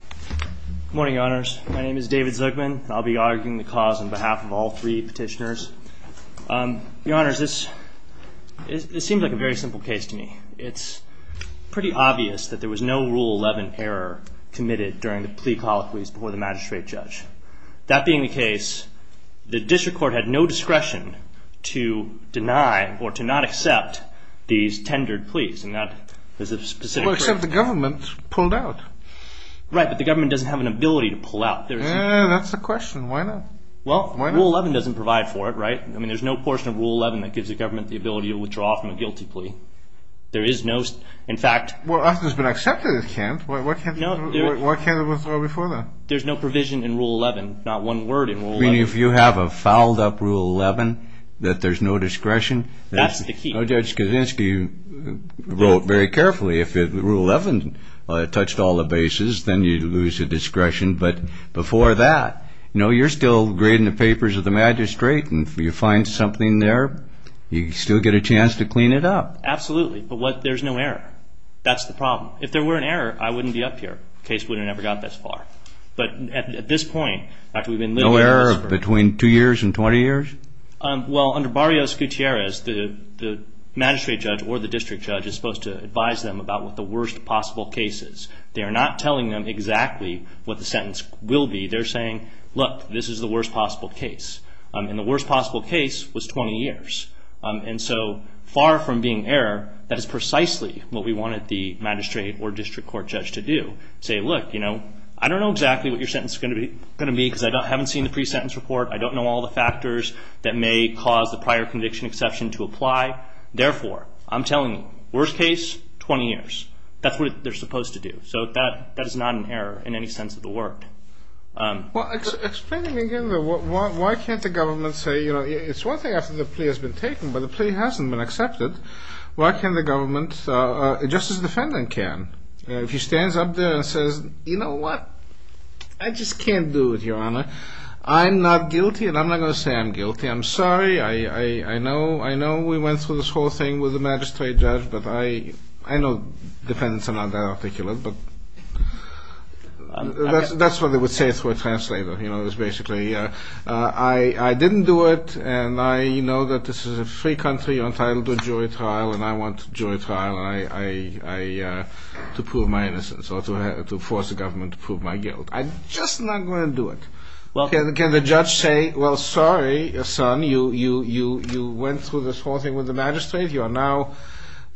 Good morning, your honors. My name is David Zugman, and I'll be arguing the cause on behalf of all three petitioners. Your honors, this seems like a very simple case to me. It's pretty obvious that there was no Rule 11 error committed during the plea colloquies before the magistrate judge. That being the case, the district court had no discretion to deny or to not accept these tendered pleas. Well, except the government pulled out. Right, but the government doesn't have an ability to pull out. Yeah, that's the question. Why not? Well, Rule 11 doesn't provide for it, right? I mean, there's no portion of Rule 11 that gives the government the ability to withdraw from a guilty plea. There is no... in fact... Well, after it's been accepted, it can't. Why can't it withdraw before then? There's no provision in Rule 11. Not one word in Rule 11. You mean if you have a fouled up Rule 11, that there's no discretion? That's the key. No, Judge Kaczynski wrote very carefully if Rule 11 touched all the bases, then you'd lose the discretion. But before that, you know, you're still grading the papers of the magistrate, and if you find something there, you still get a chance to clean it up. Absolutely, but there's no error. That's the problem. If there were an error, I wouldn't be up here. The case would have never got this far. But at this point, after we've been... No error between two years and 20 years? Well, under Barrios-Gutierrez, the magistrate judge or the district judge is supposed to advise them about what the worst possible case is. They are not telling them exactly what the sentence will be. They're saying, look, this is the worst possible case. And the worst possible case was 20 years. And so far from being error, that is precisely what we wanted the magistrate or district court judge to do. Say, look, you know, I don't know exactly what your sentence is going to be because I haven't seen the pre-sentence report. I don't know all the factors that may cause the prior conviction exception to apply. Therefore, I'm telling you, worst case, 20 years. That's what they're supposed to do. So that is not an error in any sense of the word. Well, explain to me again why can't the government say, you know, it's one thing after the plea has been taken, but the plea hasn't been accepted. Why can't the government, just as the defendant can, if he stands up there and says, you know what, I just can't do it, Your Honor. I'm not guilty. And I'm not going to say I'm guilty. I'm sorry. I know we went through this whole thing with the magistrate judge. But I know defendants are not that articulate. But that's what they would say to a translator. You know, it was basically, I didn't do it. And I know that this is a free country. You're entitled to a jury trial. And I want jury trial to prove my innocence or to force the government to prove my guilt. I'm just not going to do it. Can the judge say, well, sorry, son, you went through this whole thing with the magistrate. You are now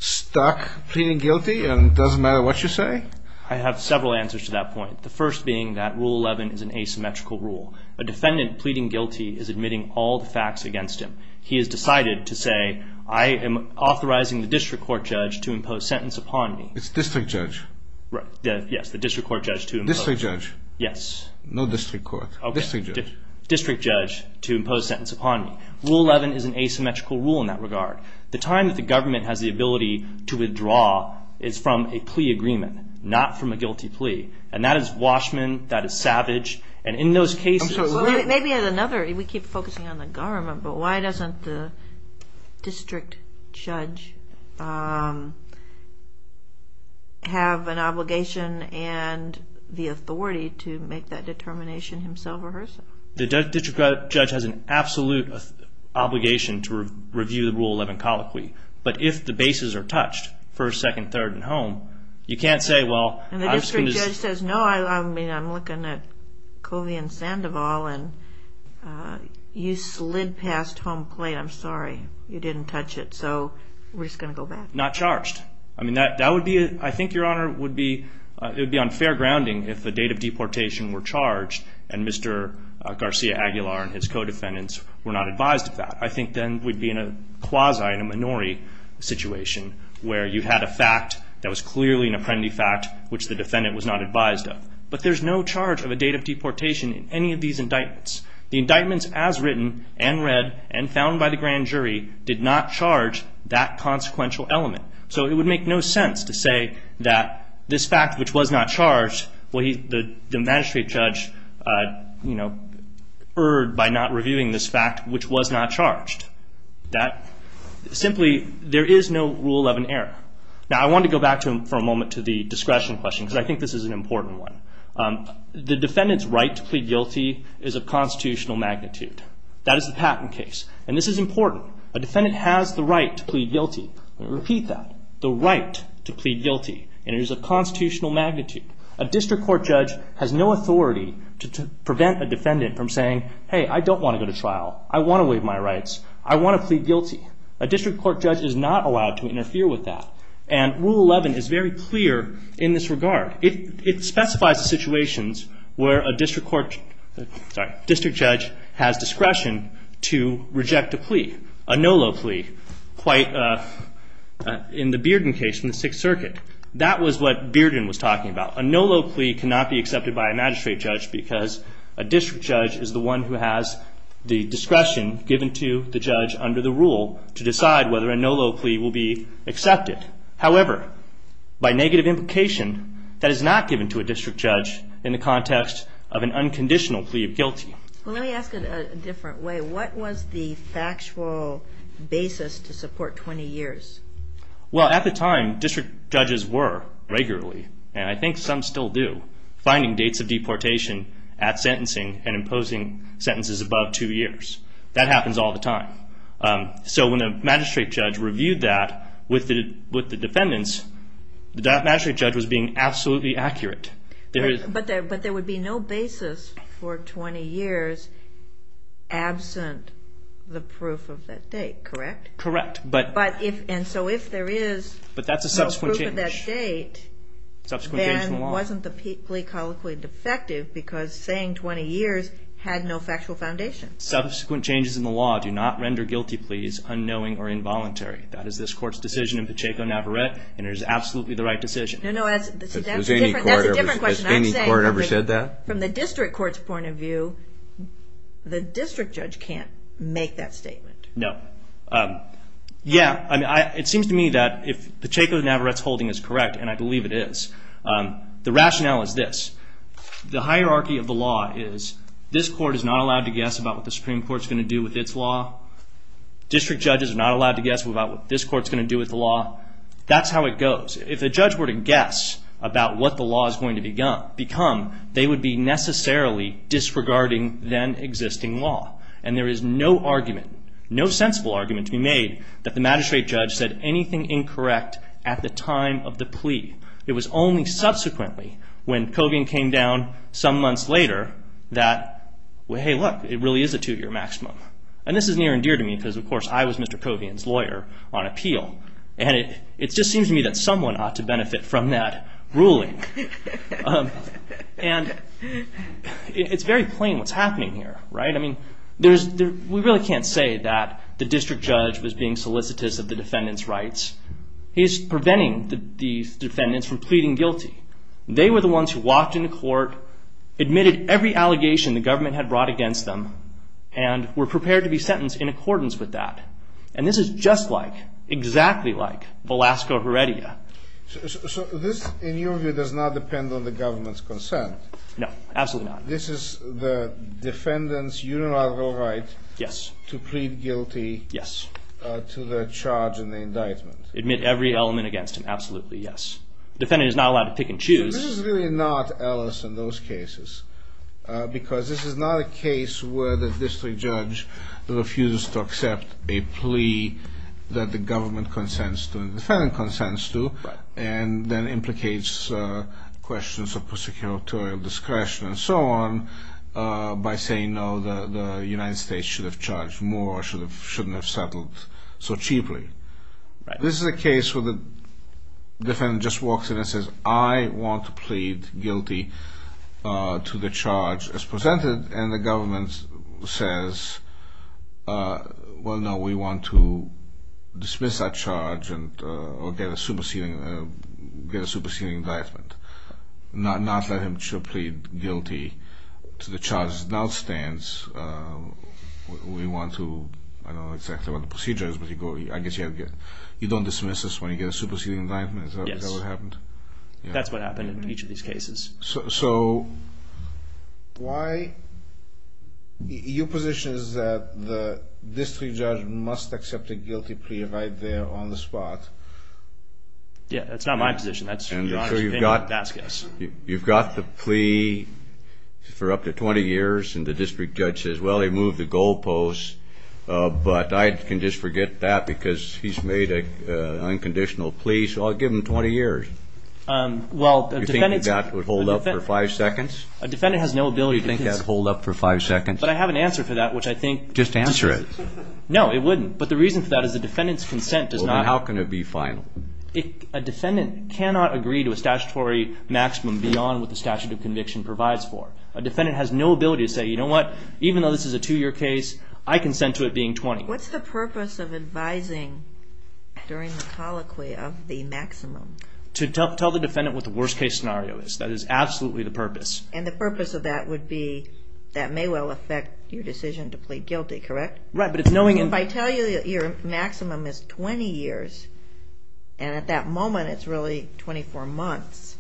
stuck pleading guilty and it doesn't matter what you say? I have several answers to that point. The first being that Rule 11 is an asymmetrical rule. A defendant pleading guilty is admitting all the facts against him. He has decided to say, I am authorizing the district court judge to impose sentence upon me. It's district judge. Yes, the district court judge to impose. District judge. Yes. No district court. District judge. District judge to impose sentence upon me. Rule 11 is an asymmetrical rule in that regard. The time that the government has the ability to withdraw is from a plea agreement, not from a guilty plea. And that is Washman. That is Savage. And in those cases. Maybe another. We keep focusing on the government, but why doesn't the district judge have an obligation and the authority to make that determination himself or herself? The district judge has an absolute obligation to review the Rule 11 colloquy. But if the bases are touched, first, second, third, and home, you can't say, well. And the district judge says, no, I mean, I'm looking at Covey and Sandoval, and you slid past home plate. I'm sorry. You didn't touch it. So we're just going to go back. Not charged. I mean, that would be, I think, Your Honor, would be unfair grounding if the date of deportation were charged and Mr. Garcia-Aguilar and his co-defendants were not advised of that. I think then we'd be in a quasi, in a minority situation, where you had a fact that was clearly an apprendee fact, which the defendant was not advised of. But there's no charge of a date of deportation in any of these indictments. The indictments as written and read and found by the grand jury did not charge that consequential element. So it would make no sense to say that this fact, which was not charged, the magistrate judge erred by not reviewing this fact, which was not charged. Simply, there is no rule of an error. Now, I want to go back for a moment to the discretion question, because I think this is an important one. The defendant's right to plead guilty is of constitutional magnitude. That is the patent case, and this is important. A defendant has the right to plead guilty. I'm going to repeat that. The right to plead guilty, and it is of constitutional magnitude. A district court judge has no authority to prevent a defendant from saying, hey, I don't want to go to trial. I want to waive my rights. I want to plead guilty. A district court judge is not allowed to interfere with that. And Rule 11 is very clear in this regard. It specifies the situations where a district court, sorry, district judge has discretion to reject a plea, a no low plea, quite in the Bearden case in the Sixth Circuit. That was what Bearden was talking about. A no low plea cannot be accepted by a magistrate judge, because a district judge is the one who has the discretion given to the judge under the rule to decide whether a no low plea will be accepted. However, by negative implication, that is not given to a district judge in the context of an unconditional plea of guilty. Well, let me ask it a different way. What was the factual basis to support 20 years? Well, at the time, district judges were regularly. And I think some still do. Finding dates of deportation at sentencing and imposing sentences above two years. That happens all the time. So when a magistrate judge reviewed that with the defendants, the magistrate judge was being absolutely accurate. But there would be no basis for 20 years absent the proof of that date, correct? Correct. And so if there is no proof of that date, then it wasn't the plea colloquy defective, because saying 20 years had no factual foundation. Subsequent changes in the law do not render guilty pleas unknowing or involuntary. That is this Court's decision in Pacheco-Navarrette, and it is absolutely the right decision. That's a different question. Has any court ever said that? From the district court's point of view, the district judge can't make that statement. No. Yeah, it seems to me that if Pacheco-Navarrette's holding is correct, and I believe it is, the rationale is this. The hierarchy of the law is this court is not allowed to guess about what the Supreme Court is going to do with its law. District judges are not allowed to guess about what this court is going to do with the law. That's how it goes. If a judge were to guess about what the law is going to become, they would be necessarily disregarding then existing law. And there is no argument, no sensible argument to be made, that the magistrate judge said anything incorrect at the time of the plea. It was only subsequently when Covian came down some months later that, hey, look, it really is a two-year maximum. And this is near and dear to me because, of course, I was Mr. Covian's lawyer on appeal. And it just seems to me that someone ought to benefit from that ruling. And it's very plain what's happening here, right? I mean, we really can't say that the district judge was being solicitous of the defendant's rights. He's preventing the defendants from pleading guilty. They were the ones who walked into court, admitted every allegation the government had brought against them, and were prepared to be sentenced in accordance with that. And this is just like, exactly like, Velasco Heredia. So this, in your view, does not depend on the government's consent? No, absolutely not. This is the defendant's unilateral right to plead guilty to the charge in the indictment? Admit every element against him, absolutely, yes. Defendant is not allowed to pick and choose. So this is really not Ellis in those cases, because this is not a case where the district judge refused to accept a plea that the government consents to and then implicates questions of prosecutorial discretion and so on by saying, no, the United States should have charged more or shouldn't have settled so cheaply. Right. This is a case where the defendant just walks in and says, I want to plead guilty to the charge as presented, and the government says, well, no, we want to dismiss that charge or get a superseding indictment, not let him plead guilty to the charge as it now stands. We want to, I don't know exactly what the procedure is, but I guess you don't dismiss this when you get a superseding indictment. Is that what happened? Yes, that's what happened in each of these cases. So why? Your position is that the district judge must accept a guilty plea right there on the spot. Yes, that's not my position. You've got the plea for up to 20 years, and the district judge says, well, he moved the goalposts, but I can just forget that because he's made an unconditional plea, so I'll give him 20 years. Do you think that would hold up for five seconds? A defendant has no ability to do this. Do you think that would hold up for five seconds? But I have an answer for that, which I think. Just answer it. No, it wouldn't, but the reason for that is the defendant's consent does not. Well, then how can it be final? A defendant cannot agree to a statutory maximum beyond what the statute of conviction provides for. A defendant has no ability to say, you know what, even though this is a two-year case, I consent to it being 20. What's the purpose of advising during the colloquy of the maximum? To tell the defendant what the worst-case scenario is. That is absolutely the purpose. And the purpose of that would be that may well affect your decision to plead guilty, correct? Right, but it's knowing. If I tell you your maximum is 20 years, and at that moment it's really 24 months,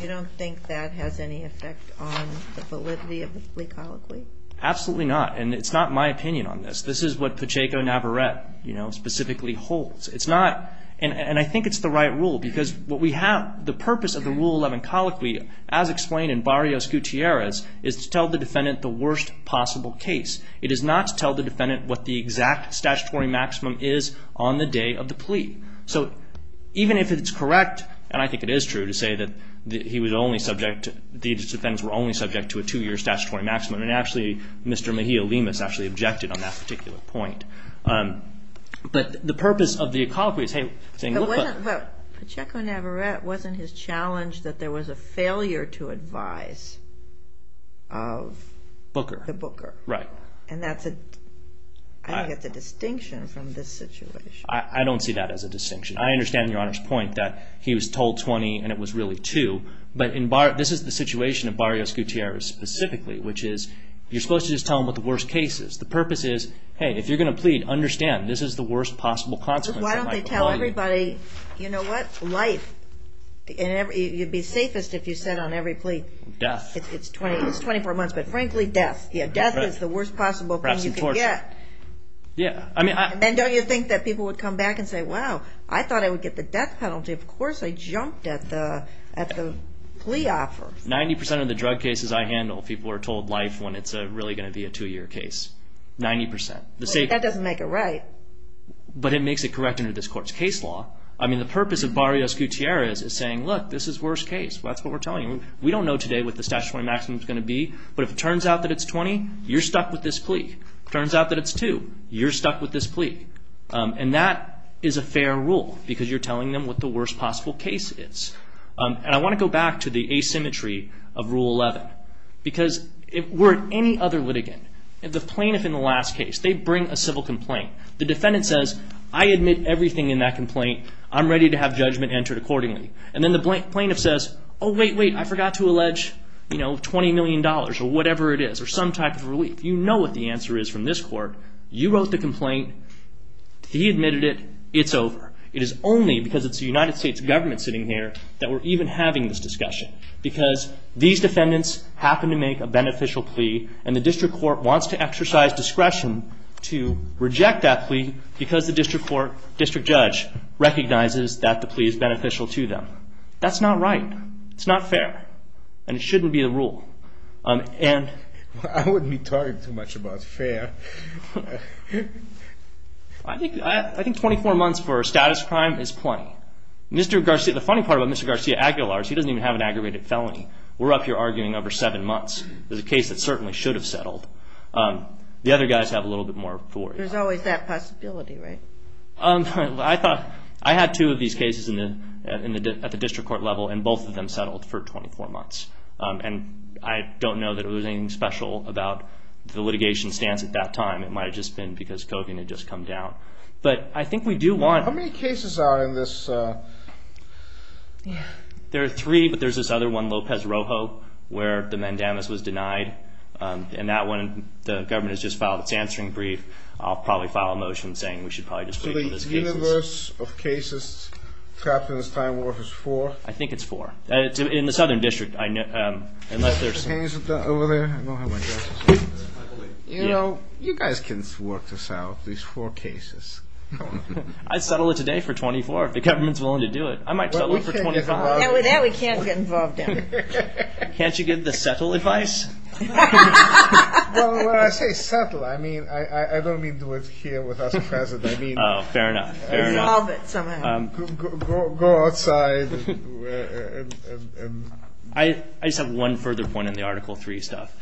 you don't think that has any effect on the validity of the plea colloquy? Absolutely not, and it's not my opinion on this. This is what Pacheco-Navarrette, you know, specifically holds. It's not, and I think it's the right rule, because what we have, the purpose of the Rule 11 colloquy, as explained in Barrios-Gutierrez, is to tell the defendant the worst possible case. It is not to tell the defendant what the exact statutory maximum is on the day of the plea. So even if it's correct, and I think it is true to say that he was only subject, these defendants were only subject to a two-year statutory maximum, and actually Mr. Mejia-Limas actually objected on that particular point. But the purpose of the colloquy is, hey, saying look... But Pacheco-Navarrette wasn't his challenge that there was a failure to advise of the booker. Right. And I think that's a distinction from this situation. I don't see that as a distinction. I understand Your Honor's point that he was told 20 and it was really 2, but this is the situation of Barrios-Gutierrez specifically, which is you're supposed to just tell him what the worst case is. The purpose is, hey, if you're going to plead, understand this is the worst possible consequence. Why don't they tell everybody, you know what, life. You'd be safest if you said on every plea, it's 24 months, but frankly, death. Yeah, death is the worst possible thing you can get. And then don't you think that people would come back and say, wow, I thought I would get the death penalty. Of course I jumped at the plea offer. 90% of the drug cases I handle, people are told life when it's really going to be a 2-year case. 90%. That doesn't make it right. But it makes it correct under this court's case law. I mean, the purpose of Barrios-Gutierrez is saying, look, this is the worst case. That's what we're telling you. We don't know today what the statutory maximum is going to be, but if it turns out that it's 20, you're stuck with this plea. If it turns out that it's 2, you're stuck with this plea. And that is a fair rule because you're telling them what the worst possible case is. And I want to go back to the asymmetry of Rule 11. Because were it any other litigant, the plaintiff in the last case, they bring a civil complaint. The defendant says, I admit everything in that complaint. I'm ready to have judgment entered accordingly. And then the plaintiff says, oh, wait, wait, I forgot to allege $20 million or whatever it is, or some type of relief. You know what the answer is from this court. You wrote the complaint. He admitted it. It's over. It is only because it's the United States government sitting here that we're even having this discussion. Because these defendants happen to make a beneficial plea, and the district court wants to exercise discretion to reject that plea because the district court, district judge, recognizes that the plea is beneficial to them. That's not right. It's not fair. And it shouldn't be a rule. I wouldn't be talking too much about fair. I think 24 months for a status crime is plenty. The funny part about Mr. Garcia-Aguilar is he doesn't even have an aggravated felony. We're up here arguing over seven months. There's a case that certainly should have settled. The other guys have a little bit more authority. There's always that possibility, right? I had two of these cases at the district court level, and both of them settled for 24 months. And I don't know that it was anything special about the litigation stance at that time. It might have just been because Kogan had just come down. But I think we do want to. How many cases are in this? There are three, but there's this other one, Lopez-Rojo, where the mandamus was denied. And that one the government has just filed its answering brief. I'll probably file a motion saying we should probably just leave it as cases. So the universe of cases trapped in this time warp is four? I think it's four. In the southern district. You know, you guys can work this out, these four cases. I'd settle it today for 24 if the government's willing to do it. I might settle it for 25. And with that, we can't get involved in it. Can't you give the settle advice? Well, when I say settle, I don't mean do it here with us present. Oh, fair enough, fair enough. Go outside. I just have one further point on the Article III stuff.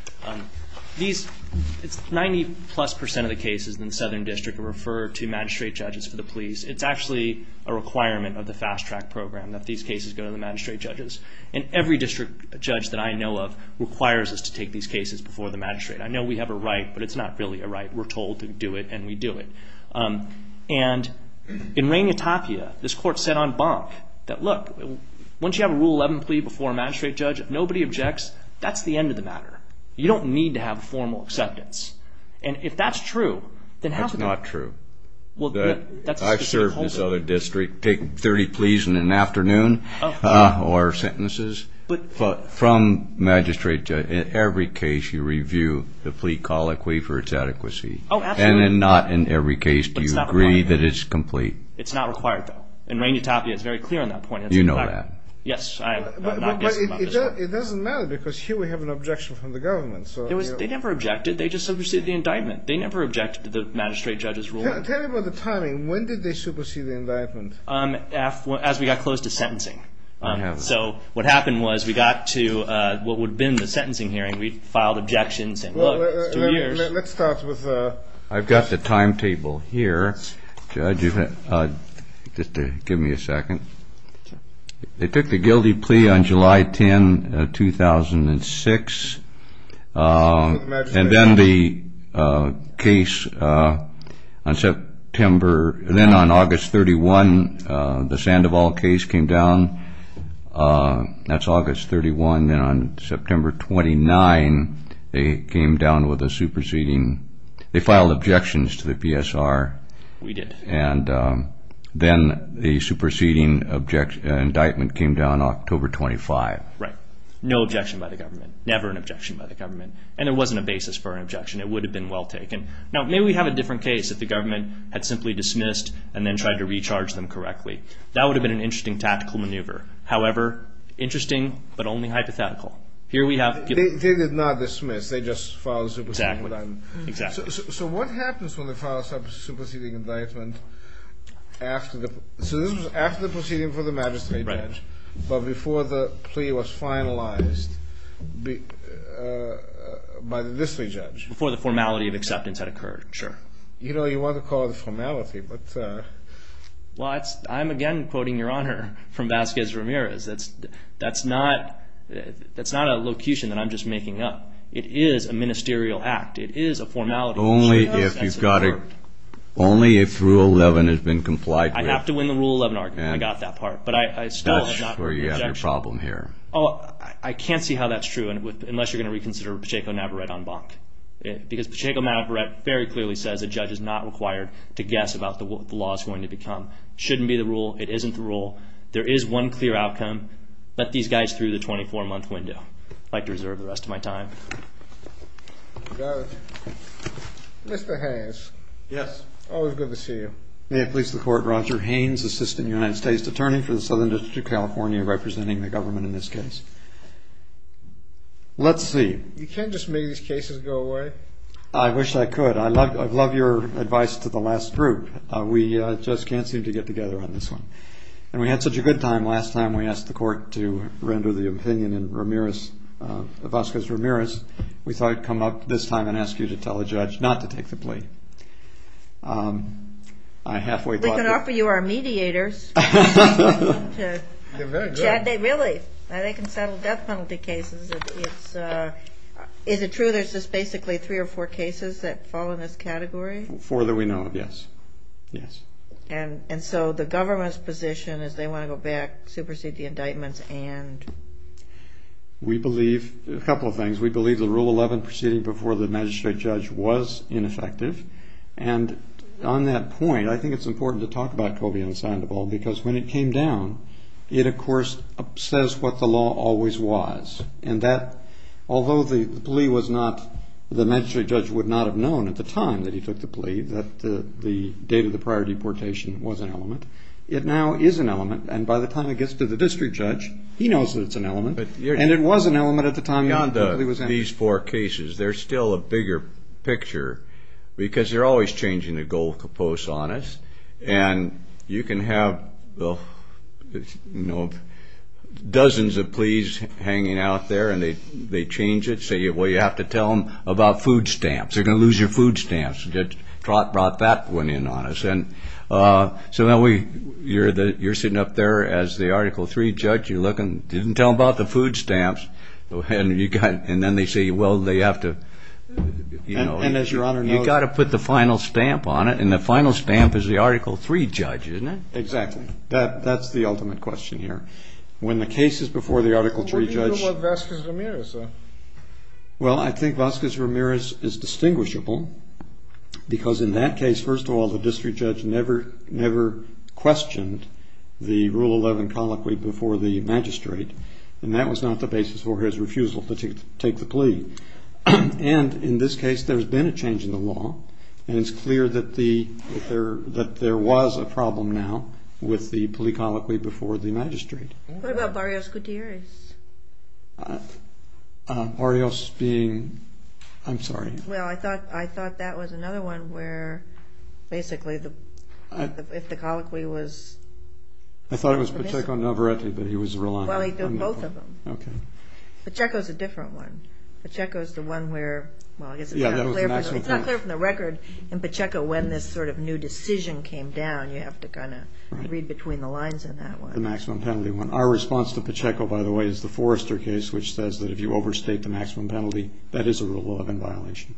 It's 90-plus percent of the cases in the southern district are referred to magistrate judges for the police. It's actually a requirement of the fast-track program that these cases go to the magistrate judges. And every district judge that I know of requires us to take these cases before the magistrate. I know we have a right, but it's not really a right. We're told to do it, and we do it. And in Rangitapia, this court set on bonk that, look, once you have a Rule 11 plea before a magistrate judge, if nobody objects, that's the end of the matter. You don't need to have formal acceptance. And if that's true, then how can we? That's not true. I've served this other district taking 30 pleas in an afternoon or sentences from magistrate judges. In every case, you review the plea colloquy for its adequacy. Oh, absolutely. And not in every case do you agree that it's complete. It's not required, though. In Rangitapia, it's very clear on that point. You know that. Yes, I'm not disappointed. But it doesn't matter because here we have an objection from the government. They never objected. They just superseded the indictment. They never objected to the magistrate judge's ruling. Tell me about the timing. When did they supersede the indictment? As we got close to sentencing. So what happened was we got to what would have been the sentencing hearing. We filed objections and, look, it's two years. I've got the timetable here. Judge, just give me a second. They took the guilty plea on July 10, 2006. And then the case on September, then on August 31, the Sandoval case came down. That's August 31. And then on September 29, they came down with a superseding. They filed objections to the PSR. We did. And then the superseding indictment came down October 25. Right. No objection by the government. Never an objection by the government. And there wasn't a basis for an objection. It would have been well taken. Now, maybe we'd have a different case if the government had simply dismissed and then tried to recharge them correctly. That would have been an interesting tactical maneuver. However, interesting but only hypothetical. They did not dismiss. They just filed a superseding indictment. Exactly. So what happens when they file a superseding indictment after the proceeding for the magistrate judge but before the plea was finalized by the district judge? Before the formality of acceptance had occurred. Sure. You know, you want to call it a formality, but... That's not a locution that I'm just making up. It is a ministerial act. It is a formality. Only if Rule 11 has been complied with. I have to win the Rule 11 argument. I got that part. But I still have not... That's where you have your problem here. I can't see how that's true unless you're going to reconsider Pacheco-Navarrette en banc. Because Pacheco-Navarrette very clearly says a judge is not required to guess about what the law is going to become. It shouldn't be the rule. It isn't the rule. There is one clear outcome. Let these guys through the 24-month window. I'd like to reserve the rest of my time. Judge. Mr. Haynes. Yes. Always good to see you. May it please the Court. Roger Haynes, Assistant United States Attorney for the Southern District of California, representing the government in this case. Let's see. You can't just make these cases go away. I wish I could. I love your advice to the last group. We just can't seem to get together on this one. And we had such a good time last time we asked the Court to render the opinion in Ramirez, Vasquez-Ramirez. We thought I'd come up this time and ask you to tell the judge not to take the plea. We can offer you our mediators. They're very good. Really. They can settle death penalty cases. Is it true there's just basically three or four cases that fall in this category? Four that we know of, yes. And so the government's position is they want to go back, supersede the indictments, and? We believe a couple of things. We believe the Rule 11 proceeding before the magistrate judge was ineffective. And on that point, I think it's important to talk about Cobian and Sandoval because when it came down, it, of course, says what the law always was, and that although the plea was not, the magistrate judge would not have known at the time that he took the plea that the date of the prior deportation was an element, it now is an element, and by the time it gets to the district judge, he knows that it's an element, and it was an element at the time he was in. Beyond these four cases, there's still a bigger picture because they're always changing the goal to impose on us, and you can have dozens of pleas hanging out there, and they change it, say, well, you have to tell them about food stamps. They're going to lose your food stamps. Trot brought that one in on us. So now you're sitting up there as the Article III judge. You're looking. Didn't tell them about the food stamps, and then they say, well, they have to, you know. And as Your Honor knows. You've got to put the final stamp on it, and the final stamp is the Article III judge, isn't it? Exactly. That's the ultimate question here. When the case is before the Article III judge. What do you think about Vasquez-Ramirez, though? Well, I think Vasquez-Ramirez is distinguishable because in that case, first of all, the district judge never questioned the Rule 11 colloquy before the magistrate, and that was not the basis for his refusal to take the plea. And in this case, there's been a change in the law, and it's clear that there was a problem now with the plea colloquy before the magistrate. What about Barrios-Gutierrez? Barrios being? I'm sorry. Well, I thought that was another one where basically if the colloquy was... I thought it was Pacheco-Novaretti, but he was Rolando. Well, he did both of them. Okay. Pacheco's a different one. Pacheco's the one where, well, I guess it's not clear from the record in Pacheco when this sort of new decision came down. You have to kind of read between the lines in that one. The maximum penalty one. Our response to Pacheco, by the way, is the Forrester case, which says that if you overstate the maximum penalty, that is a Rule 11 violation.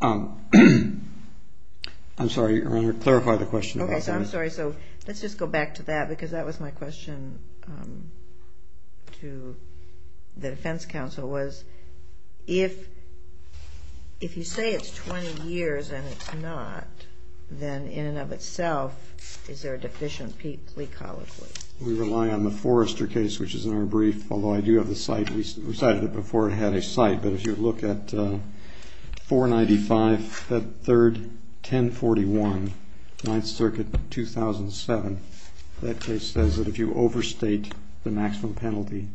I'm sorry, Your Honor, clarify the question. Okay, so I'm sorry. So let's just go back to that because that was my question to the defense counsel was if you say it's 20 years and it's not, then in and of itself, is there a deficient plea colloquy? We rely on the Forrester case, which is in our brief, although I do have the cite. We cited it before it had a cite. But if you look at 495, that third, 1041, Ninth Circuit, 2007, that case says that if you overstate the maximum penalty,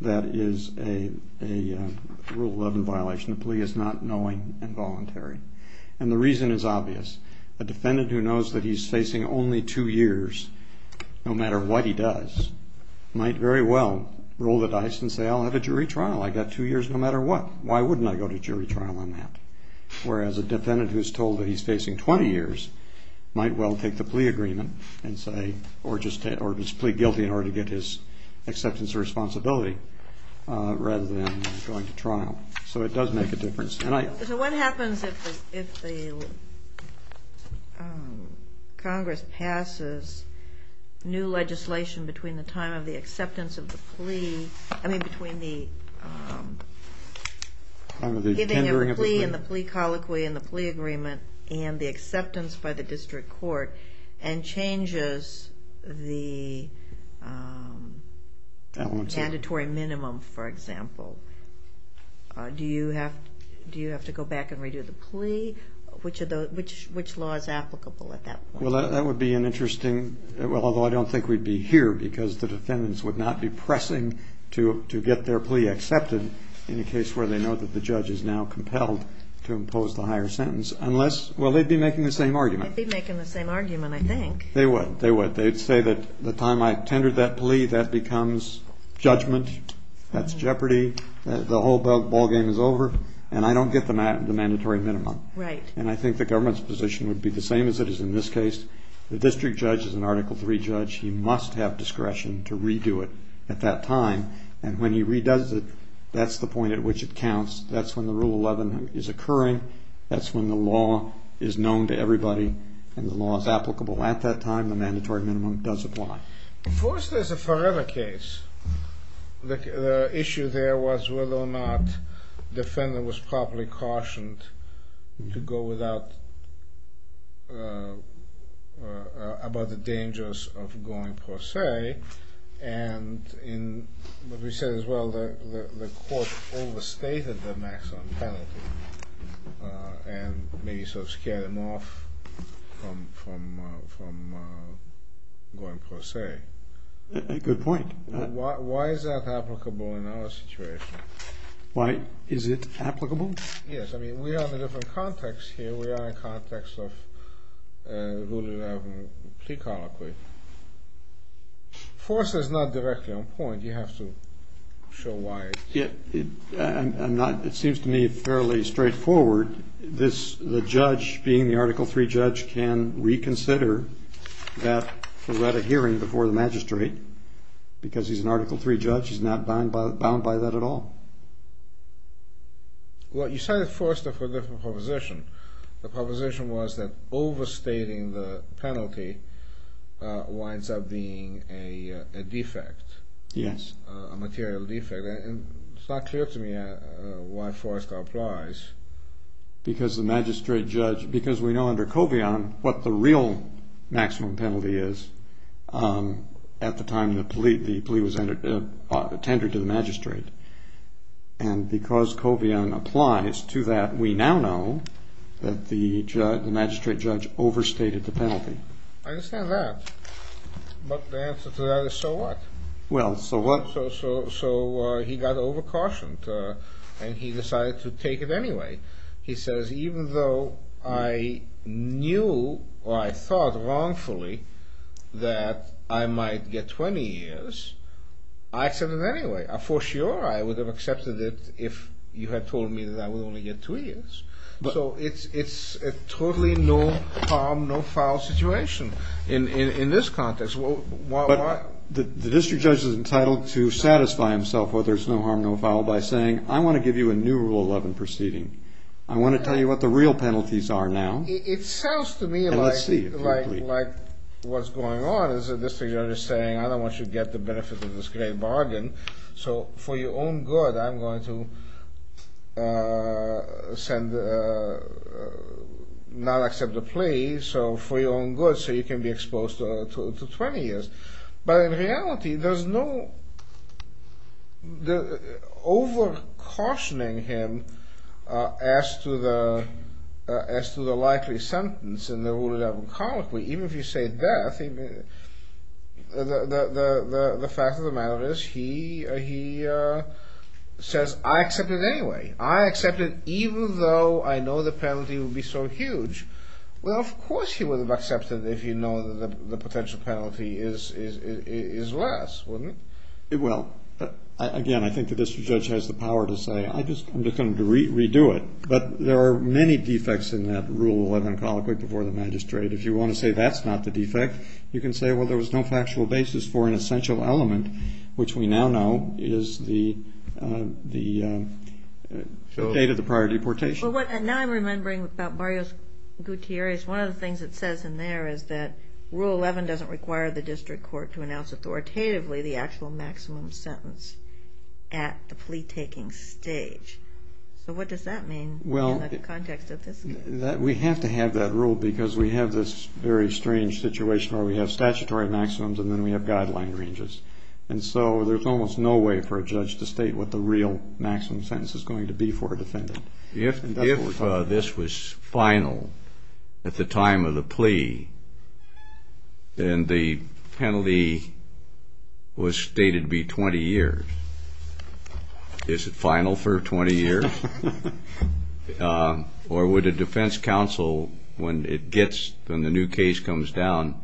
that is a Rule 11 violation. The plea is not knowing and voluntary. And the reason is obvious. A defendant who knows that he's facing only two years, no matter what he does, might very well roll the dice and say, I'll have a jury trial. I've got two years no matter what. Why wouldn't I go to jury trial on that? Whereas a defendant who's told that he's facing 20 years might well take the plea agreement and say or just plead guilty in order to get his acceptance of responsibility rather than going to trial. So it does make a difference. So what happens if Congress passes new legislation between the time of the acceptance of the plea, I mean between the giving of the plea and the plea colloquy and the plea agreement and the acceptance by the district court and changes the mandatory minimum, for example? Do you have to go back and redo the plea? Which law is applicable at that point? Well, that would be an interesting, well, although I don't think we'd be here because the defendants would not be pressing to get their plea accepted in a case where they know that the judge is now compelled to impose the higher sentence unless, well, they'd be making the same argument. They'd be making the same argument, I think. They would. They would. I would say that the time I tendered that plea, that becomes judgment. That's jeopardy. The whole ballgame is over. And I don't get the mandatory minimum. Right. And I think the government's position would be the same as it is in this case. The district judge is an Article III judge. He must have discretion to redo it at that time. And when he redoes it, that's the point at which it counts. That's when the Rule 11 is occurring. That's when the law is known to everybody and the law is applicable at that time. And the mandatory minimum does apply. First, there's a forever case. The issue there was whether or not the defendant was properly cautioned to go without about the dangers of going per se. And what we said as well, the court overstated the maximum penalty and maybe sort of scared him off from going per se. Good point. Why is that applicable in our situation? Why is it applicable? Yes. I mean, we are in a different context here. We are in a context of Rule 11 pre-colloquy. First, it's not directly on point. You have to show why. It seems to me fairly straightforward. The judge being the Article III judge can reconsider that for that hearing before the magistrate because he's an Article III judge. He's not bound by that at all. Well, you cited first a different proposition. The proposition was that overstating the penalty winds up being a defect, a material defect. It's not clear to me why Forrester applies. Because the magistrate judge, because we know under Covion what the real maximum penalty is at the time the plea was tendered to the magistrate. And because Covion applies to that, we now know that the magistrate judge overstated the penalty. I understand that. But the answer to that is so what? Well, so what? So he got over-cautioned and he decided to take it anyway. He says, even though I knew or I thought wrongfully that I might get 20 years, I accepted it anyway. For sure I would have accepted it if you had told me that I would only get two years. So it's a totally no harm, no foul situation in this context. But the district judge is entitled to satisfy himself whether it's no harm, no foul by saying, I want to give you a new Rule 11 proceeding. I want to tell you what the real penalties are now. It sounds to me like what's going on is the district judge is saying, I don't want you to get the benefit of this great bargain, so for your own good I'm going to not accept the plea, so for your own good so you can be exposed to 20 years. But in reality, there's no over-cautioning him as to the likely sentence in the Rule 11 Convocate. Even if you say that, the fact of the matter is he says, I accept it anyway. I accept it even though I know the penalty will be so huge. Well, of course he would have accepted it if you know the potential penalty is less, wouldn't it? Well, again, I think the district judge has the power to say, I'm just going to redo it. But there are many defects in that Rule 11 Convocate before the magistrate. If you want to say that's not the defect, you can say, well, there was no factual basis for an essential element, which we now know is the date of the prior deportation. Now I'm remembering about Barrios-Gutierrez. One of the things it says in there is that Rule 11 doesn't require the district court to announce authoritatively the actual maximum sentence at the plea-taking stage. So what does that mean in the context of this case? Well, we have to have that rule because we have this very strange situation where we have statutory maximums and then we have guideline ranges. And so there's almost no way for a judge to state what the real maximum sentence is going to be for a defendant. If this was final at the time of the plea, then the penalty was stated to be 20 years. Is it final for 20 years? Or would a defense counsel, when the new case comes down,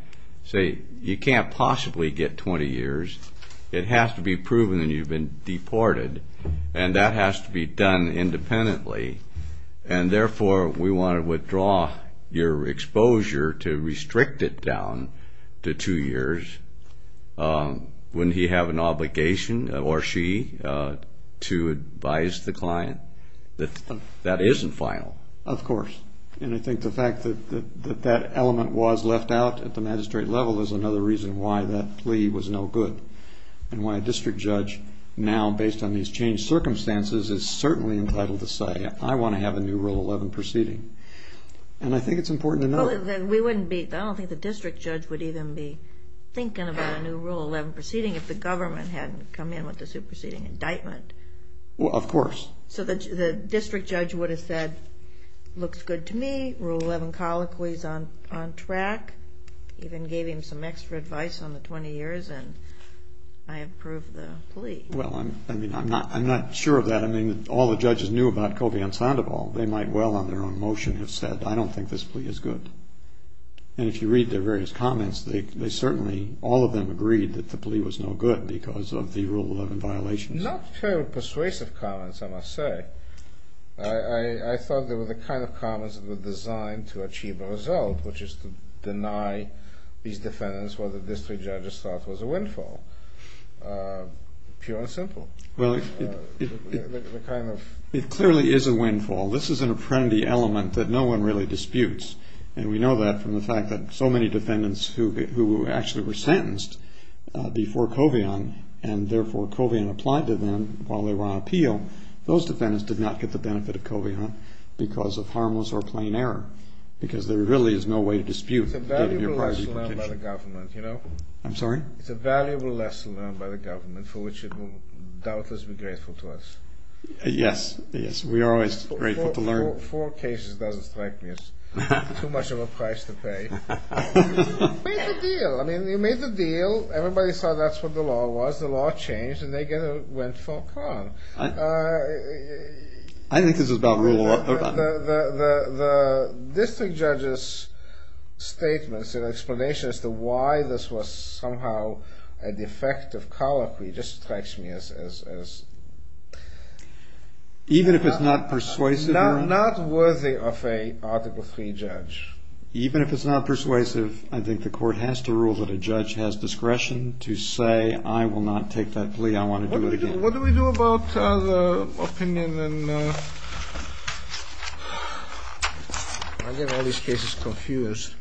say, you can't possibly get 20 years. It has to be proven that you've been deported, and that has to be done independently. And therefore, we want to withdraw your exposure to restrict it down to two years. Wouldn't he have an obligation, or she, to advise the client that that isn't final? Of course. And I think the fact that that element was left out at the magistrate level is another reason why that plea was no good and why a district judge now, based on these changed circumstances, is certainly entitled to say, I want to have a new Rule 11 proceeding. And I think it's important to know. I don't think the district judge would even be thinking about a new Rule 11 proceeding if the government hadn't come in with the superseding indictment. Well, of course. So the district judge would have said, looks good to me. Rule 11 colloquy is on track. Even gave him some extra advice on the 20 years, and I approve the plea. Well, I mean, I'm not sure of that. I mean, all the judges knew about Kovian-Sandoval. They might well, on their own motion, have said, I don't think this plea is good. And if you read their various comments, they certainly, all of them, agreed that the plea was no good because of the Rule 11 violations. Not very persuasive comments, I must say. I thought they were the kind of comments that were designed to achieve a result, which is to deny these defendants what the district judges thought was a windfall. Pure and simple. It clearly is a windfall. This is an apprehendee element that no one really disputes. And we know that from the fact that so many defendants who actually were sentenced before Kovian, and therefore Kovian applied to them while they were on appeal, those defendants did not get the benefit of Kovian because of harmless or plain error. Because there really is no way to dispute. It's a valuable lesson learned by the government, you know. I'm sorry? It's a valuable lesson learned by the government for which it will doubtless be grateful to us. Yes, yes. We are always grateful to learn. Four cases doesn't strike me as too much of a price to pay. You made the deal. I mean, you made the deal. Everybody saw that's what the law was. The law changed, and they went for Kovian. I think this is about rule of law. The district judge's statements and explanation as to why this was somehow a defective colloquy just strikes me as... Even if it's not persuasive or... Not worthy of an Article III judge. Even if it's not persuasive, I think the court has to rule that a judge has discretion to say, I will not take that plea. I want to do it again. What do we do about the opinion and... I get all these cases confused.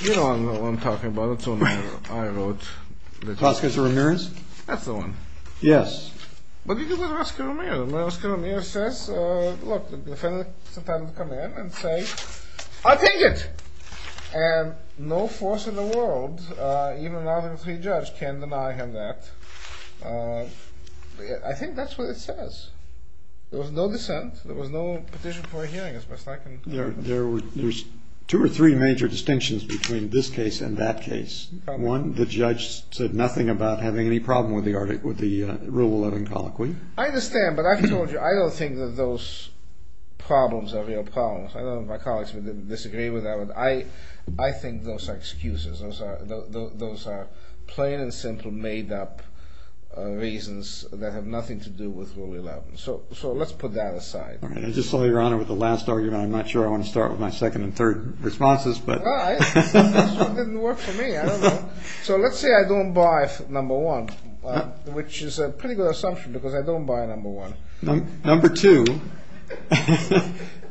You know what I'm talking about. It's the one I wrote. Vasquez or Ramirez? That's the one. Yes. What do we do about Vasquez or Ramirez? Vasquez or Ramirez says, look, the defendant is entitled to come in and say, I'll take it! And no force in the world, even an Article III judge, can deny him that. I think that's what it says. There was no dissent. There was no petition for a hearing. There's two or three major distinctions between this case and that case. One, the judge said nothing about having any problem with the Rule 11 colloquy. I understand, but I've told you, I don't think that those problems are real problems. I know my colleagues would disagree with that. I think those are excuses. Those are plain and simple made-up reasons that have nothing to do with Rule 11. So let's put that aside. I just saw Your Honor with the last argument. I'm not sure I want to start with my second and third responses. Well, this one didn't work for me. I don't know. So let's say I don't buy number one, which is a pretty good assumption because I don't buy number one. Number two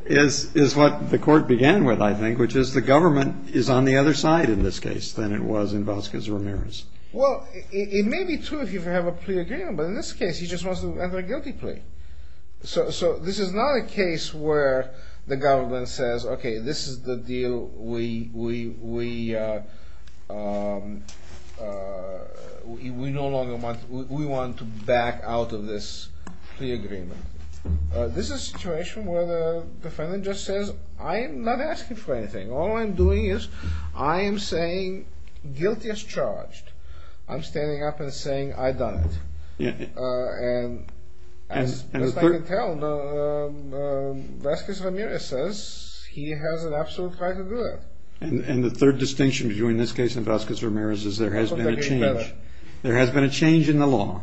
is what the court began with, I think, which is the government is on the other side in this case than it was in Vasquez or Ramirez. Well, it may be true if you have a plea agreement, but in this case he just wants to enter a guilty plea. So this is not a case where the government says, okay, this is the deal. We no longer want to back out of this plea agreement. This is a situation where the defendant just says, I am not asking for anything. All I'm doing is I am saying guilty as charged. I'm standing up and saying I've done it. And as far as I can tell, Vasquez Ramirez says he has an absolute right to do it. And the third distinction between this case and Vasquez Ramirez is there has been a change. There has been a change in the law.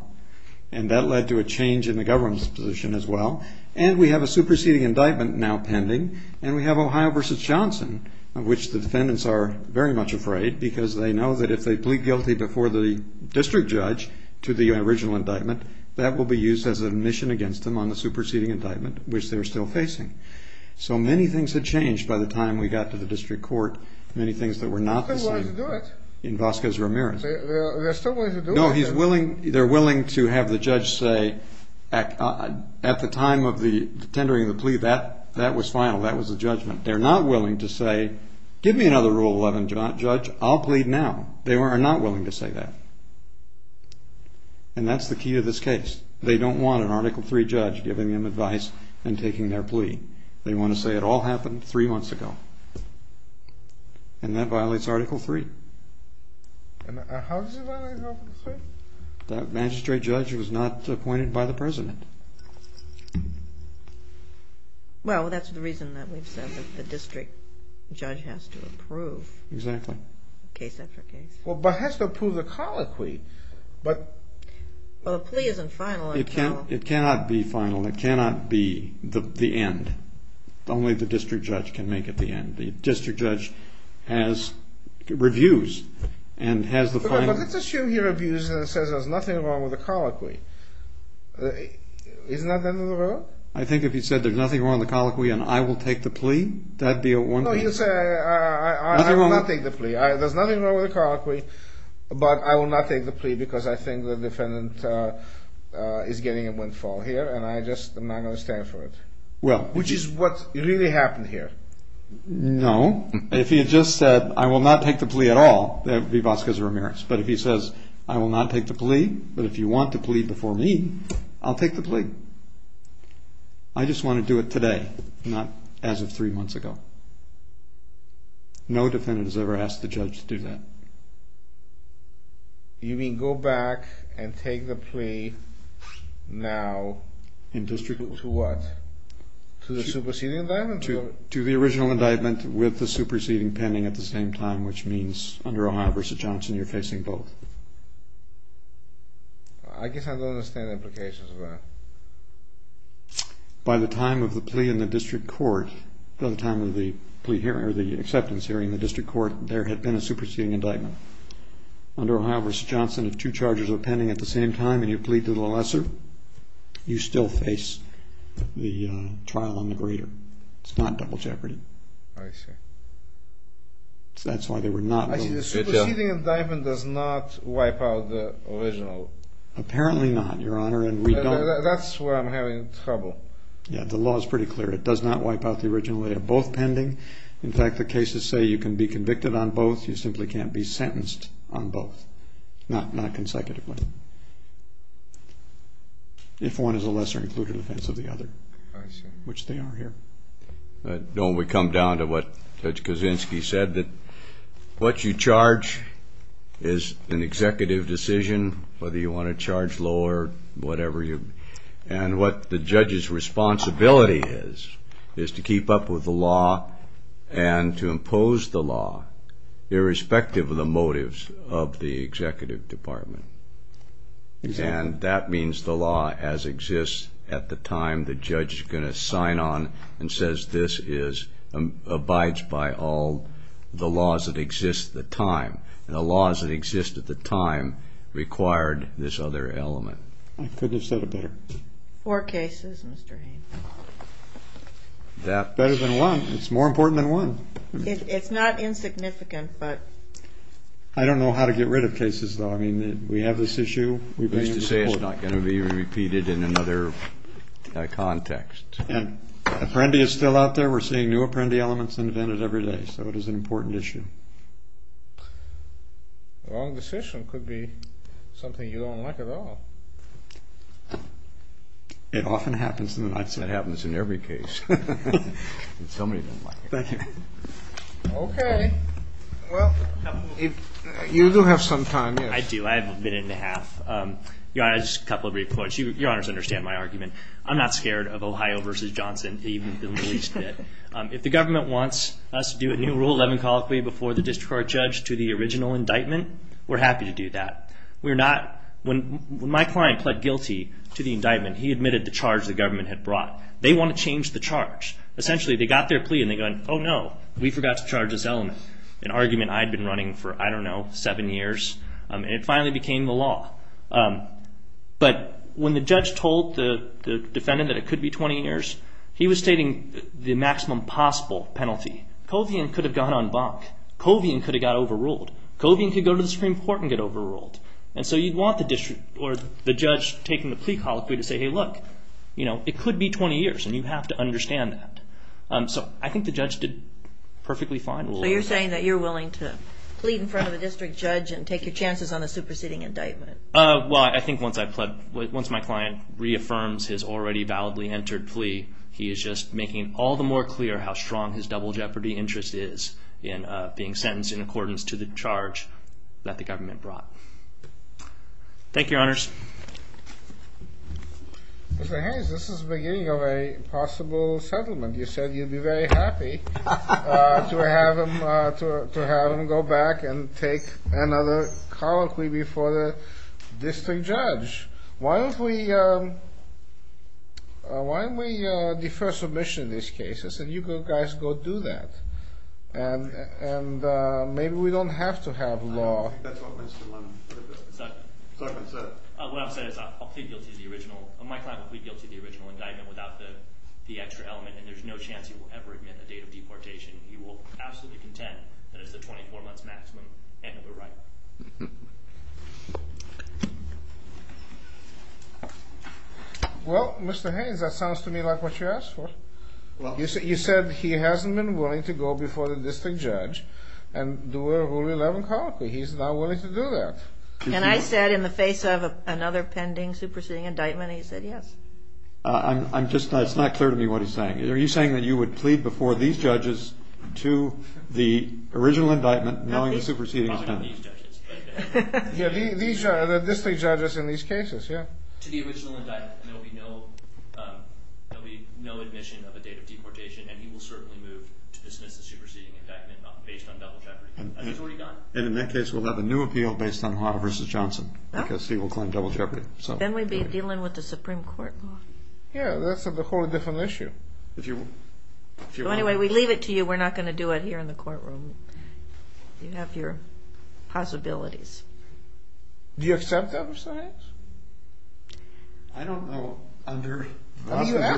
And that led to a change in the government's position as well. And we have a superseding indictment now pending. And we have Ohio v. Johnson, of which the defendants are very much afraid because they know that if they plead guilty before the district judge to the original indictment, that will be used as a mission against them on the superseding indictment, which they are still facing. So many things have changed by the time we got to the district court. Many things that were not the same in Vasquez Ramirez. No, they're willing to have the judge say at the time of the tendering of the plea, that was final. That was the judgment. They're not willing to say give me another Rule 11 judge. I'll plead now. They are not willing to say that. And that's the key to this case. They don't want an Article III judge giving them advice and taking their plea. They want to say it all happened three months ago. And that violates Article III. And how does it violate Article III? That magistrate judge was not appointed by the president. Well, that's the reason that we've said that the district judge has to approve. Exactly. Case after case. Well, but has to approve the colloquy. Well, the plea isn't final. It cannot be final. It cannot be the end. Only the district judge can make it the end. The district judge has reviews and has the final. But let's assume you're abused and it says there's nothing wrong with the colloquy. Isn't that the end of the Rule? I think if he said there's nothing wrong with the colloquy and I will take the plea, that would be one thing. No, you say I will not take the plea. There's nothing wrong with the colloquy. But I will not take the plea because I think the defendant is getting a windfall here. And I just am not going to stand for it. Which is what really happened here. No. If he had just said I will not take the plea at all, that would be Vasquez Ramirez. But if he says I will not take the plea, but if you want the plea before me, I'll take the plea. I just want to do it today, not as of three months ago. No defendant has ever asked the judge to do that. You mean go back and take the plea now to what? To the superseding indictment? To the original indictment with the superseding pending at the same time, which means under Ohio v. Johnson you're facing both. I guess I don't understand the implications of that. By the time of the plea in the district court, by the time of the acceptance hearing in the district court, there had been a superseding indictment. Under Ohio v. Johnson, if two charges are pending at the same time and you plead to the lesser, you still face the trial on the greater. It's not double jeopardy. I see. That's why they were not willing. The superseding indictment does not wipe out the original. Apparently not, Your Honor, and we don't. That's why I'm having trouble. Yeah, the law is pretty clear. It does not wipe out the original. They are both pending. In fact, the cases say you can be convicted on both. You simply can't be sentenced on both, not consecutively, if one is a lesser-included offense of the other, which they are here. Don't we come down to what Judge Kuczynski said, that what you charge is an executive decision, whether you want to charge lower, whatever. And what the judge's responsibility is, is to keep up with the law and to impose the law irrespective of the motives of the executive department. And that means the law as exists at the time the judge is going to sign on and says this abides by all the laws that exist at the time. And the laws that exist at the time required this other element. I couldn't have said it better. Four cases, Mr. Haynes. Better than one. It's more important than one. It's not insignificant, but. I don't know how to get rid of cases, though. I mean, we have this issue. It's to say it's not going to be repeated in another context. Apprendi is still out there. We're seeing new Apprendi elements invented every day, so it is an important issue. A wrong decision could be something you don't like at all. It often happens, and I'd say it happens in every case. Somebody doesn't like it. Thank you. Okay. You do have some time. I do. I have a minute and a half. Just a couple of brief points. Your Honors understand my argument. I'm not scared of Ohio v. Johnson, even the least bit. If the government wants us to do a new Rule 11 colloquy before the district court judge to the original indictment, we're happy to do that. When my client pled guilty to the indictment, he admitted the charge the government had brought. They want to change the charge. Essentially, they got their plea and they go, oh, no, we forgot to charge this element, an argument I'd been running for, I don't know, seven years, and it finally became the law. But when the judge told the defendant that it could be 20 years, he was stating the maximum possible penalty. Covian could have gone on bonk. Covian could have got overruled. Covian could go to the Supreme Court and get overruled. And so you'd want the judge taking the plea colloquy to say, hey, look, it could be 20 years, and you have to understand that. So I think the judge did perfectly fine. So you're saying that you're willing to plead in front of a district judge and take your chances on the superseding indictment? Well, I think once my client reaffirms his already validly entered plea, he is just making all the more clear how strong his double jeopardy interest is in being sentenced in accordance to the charge that the government brought. Thank you, Your Honors. Mr. Hayes, this is the beginning of a possible settlement. You said you'd be very happy to have him go back and take another colloquy before the district judge. Why don't we defer submission in this case? I said you guys go do that. And maybe we don't have to have law. I don't think that's what Mr. Lemon said. What I've said is I'll plead guilty to the original. My client will plead guilty to the original indictment without the extra element, and there's no chance he will ever admit the date of deportation. He will absolutely contend that it's the 24 months maximum, and he'll be right. Well, Mr. Hayes, that sounds to me like what you asked for. You said he hasn't been willing to go before the district judge and do a Rule 11 colloquy. He's not willing to do that. And I said in the face of another pending superseding indictment, he said yes. It's not clear to me what he's saying. Are you saying that you would plead before these judges to the original indictment knowing the superseding is done? These are the district judges in these cases, yeah. To the original indictment, and there will be no admission of a date of deportation, and he will certainly move to dismiss the superseding indictment based on double jeopardy. And in that case, we'll have a new appeal based on Haught v. Johnson because he will claim double jeopardy. Then we'd be dealing with the Supreme Court law. Yeah, that's a wholly different issue. Anyway, we leave it to you. We're not going to do it here in the courtroom. You have your possibilities. Do you accept that, Mr. Hayes? I don't know. You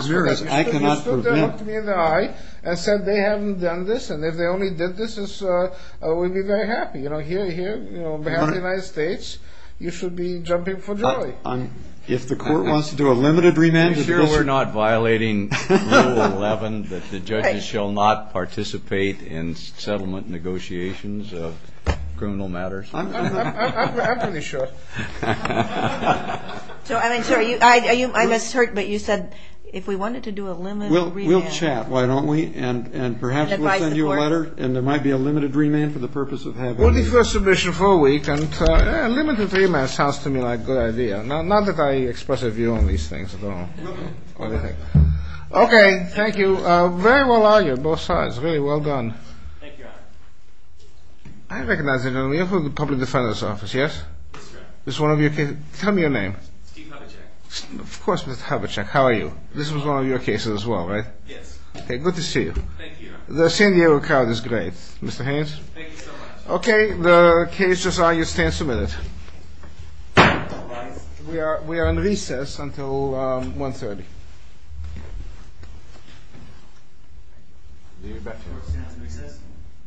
should have looked me in the eye and said they haven't done this, and if they only did this, we'd be very happy. You know, here on behalf of the United States, you should be jumping for joy. If the court wants to do a limited remand. Are you sure we're not violating Rule 11, that the judges shall not participate in settlement negotiations of criminal matters? I'm pretty sure. I'm sorry, I misheard, but you said if we wanted to do a limited remand. We'll chat, why don't we? And perhaps we'll send you a letter, and there might be a limited remand for the purpose of having you. We'll defer submission for a week, and a limited remand sounds to me like a good idea. Not that I express a view on these things at all. Okay, thank you. Very well argued, both sides. Really well done. Thank you, Your Honor. I recognize the gentleman. You're from the Public Defender's Office, yes? That's right. Tell me your name. Steve Hubachek. Of course, Mr. Hubachek. How are you? This was one of your cases as well, right? Yes. Okay, good to see you. Thank you, Your Honor. The San Diego crowd is great. Mr. Haynes? Thank you so much. Okay, the case is now your stand submitted. We are in recess until 1.30. Thank you. Do your best for us. See you in recess. Thank you, Your Honor. Thank you. Thank you. Thank you. Thank you.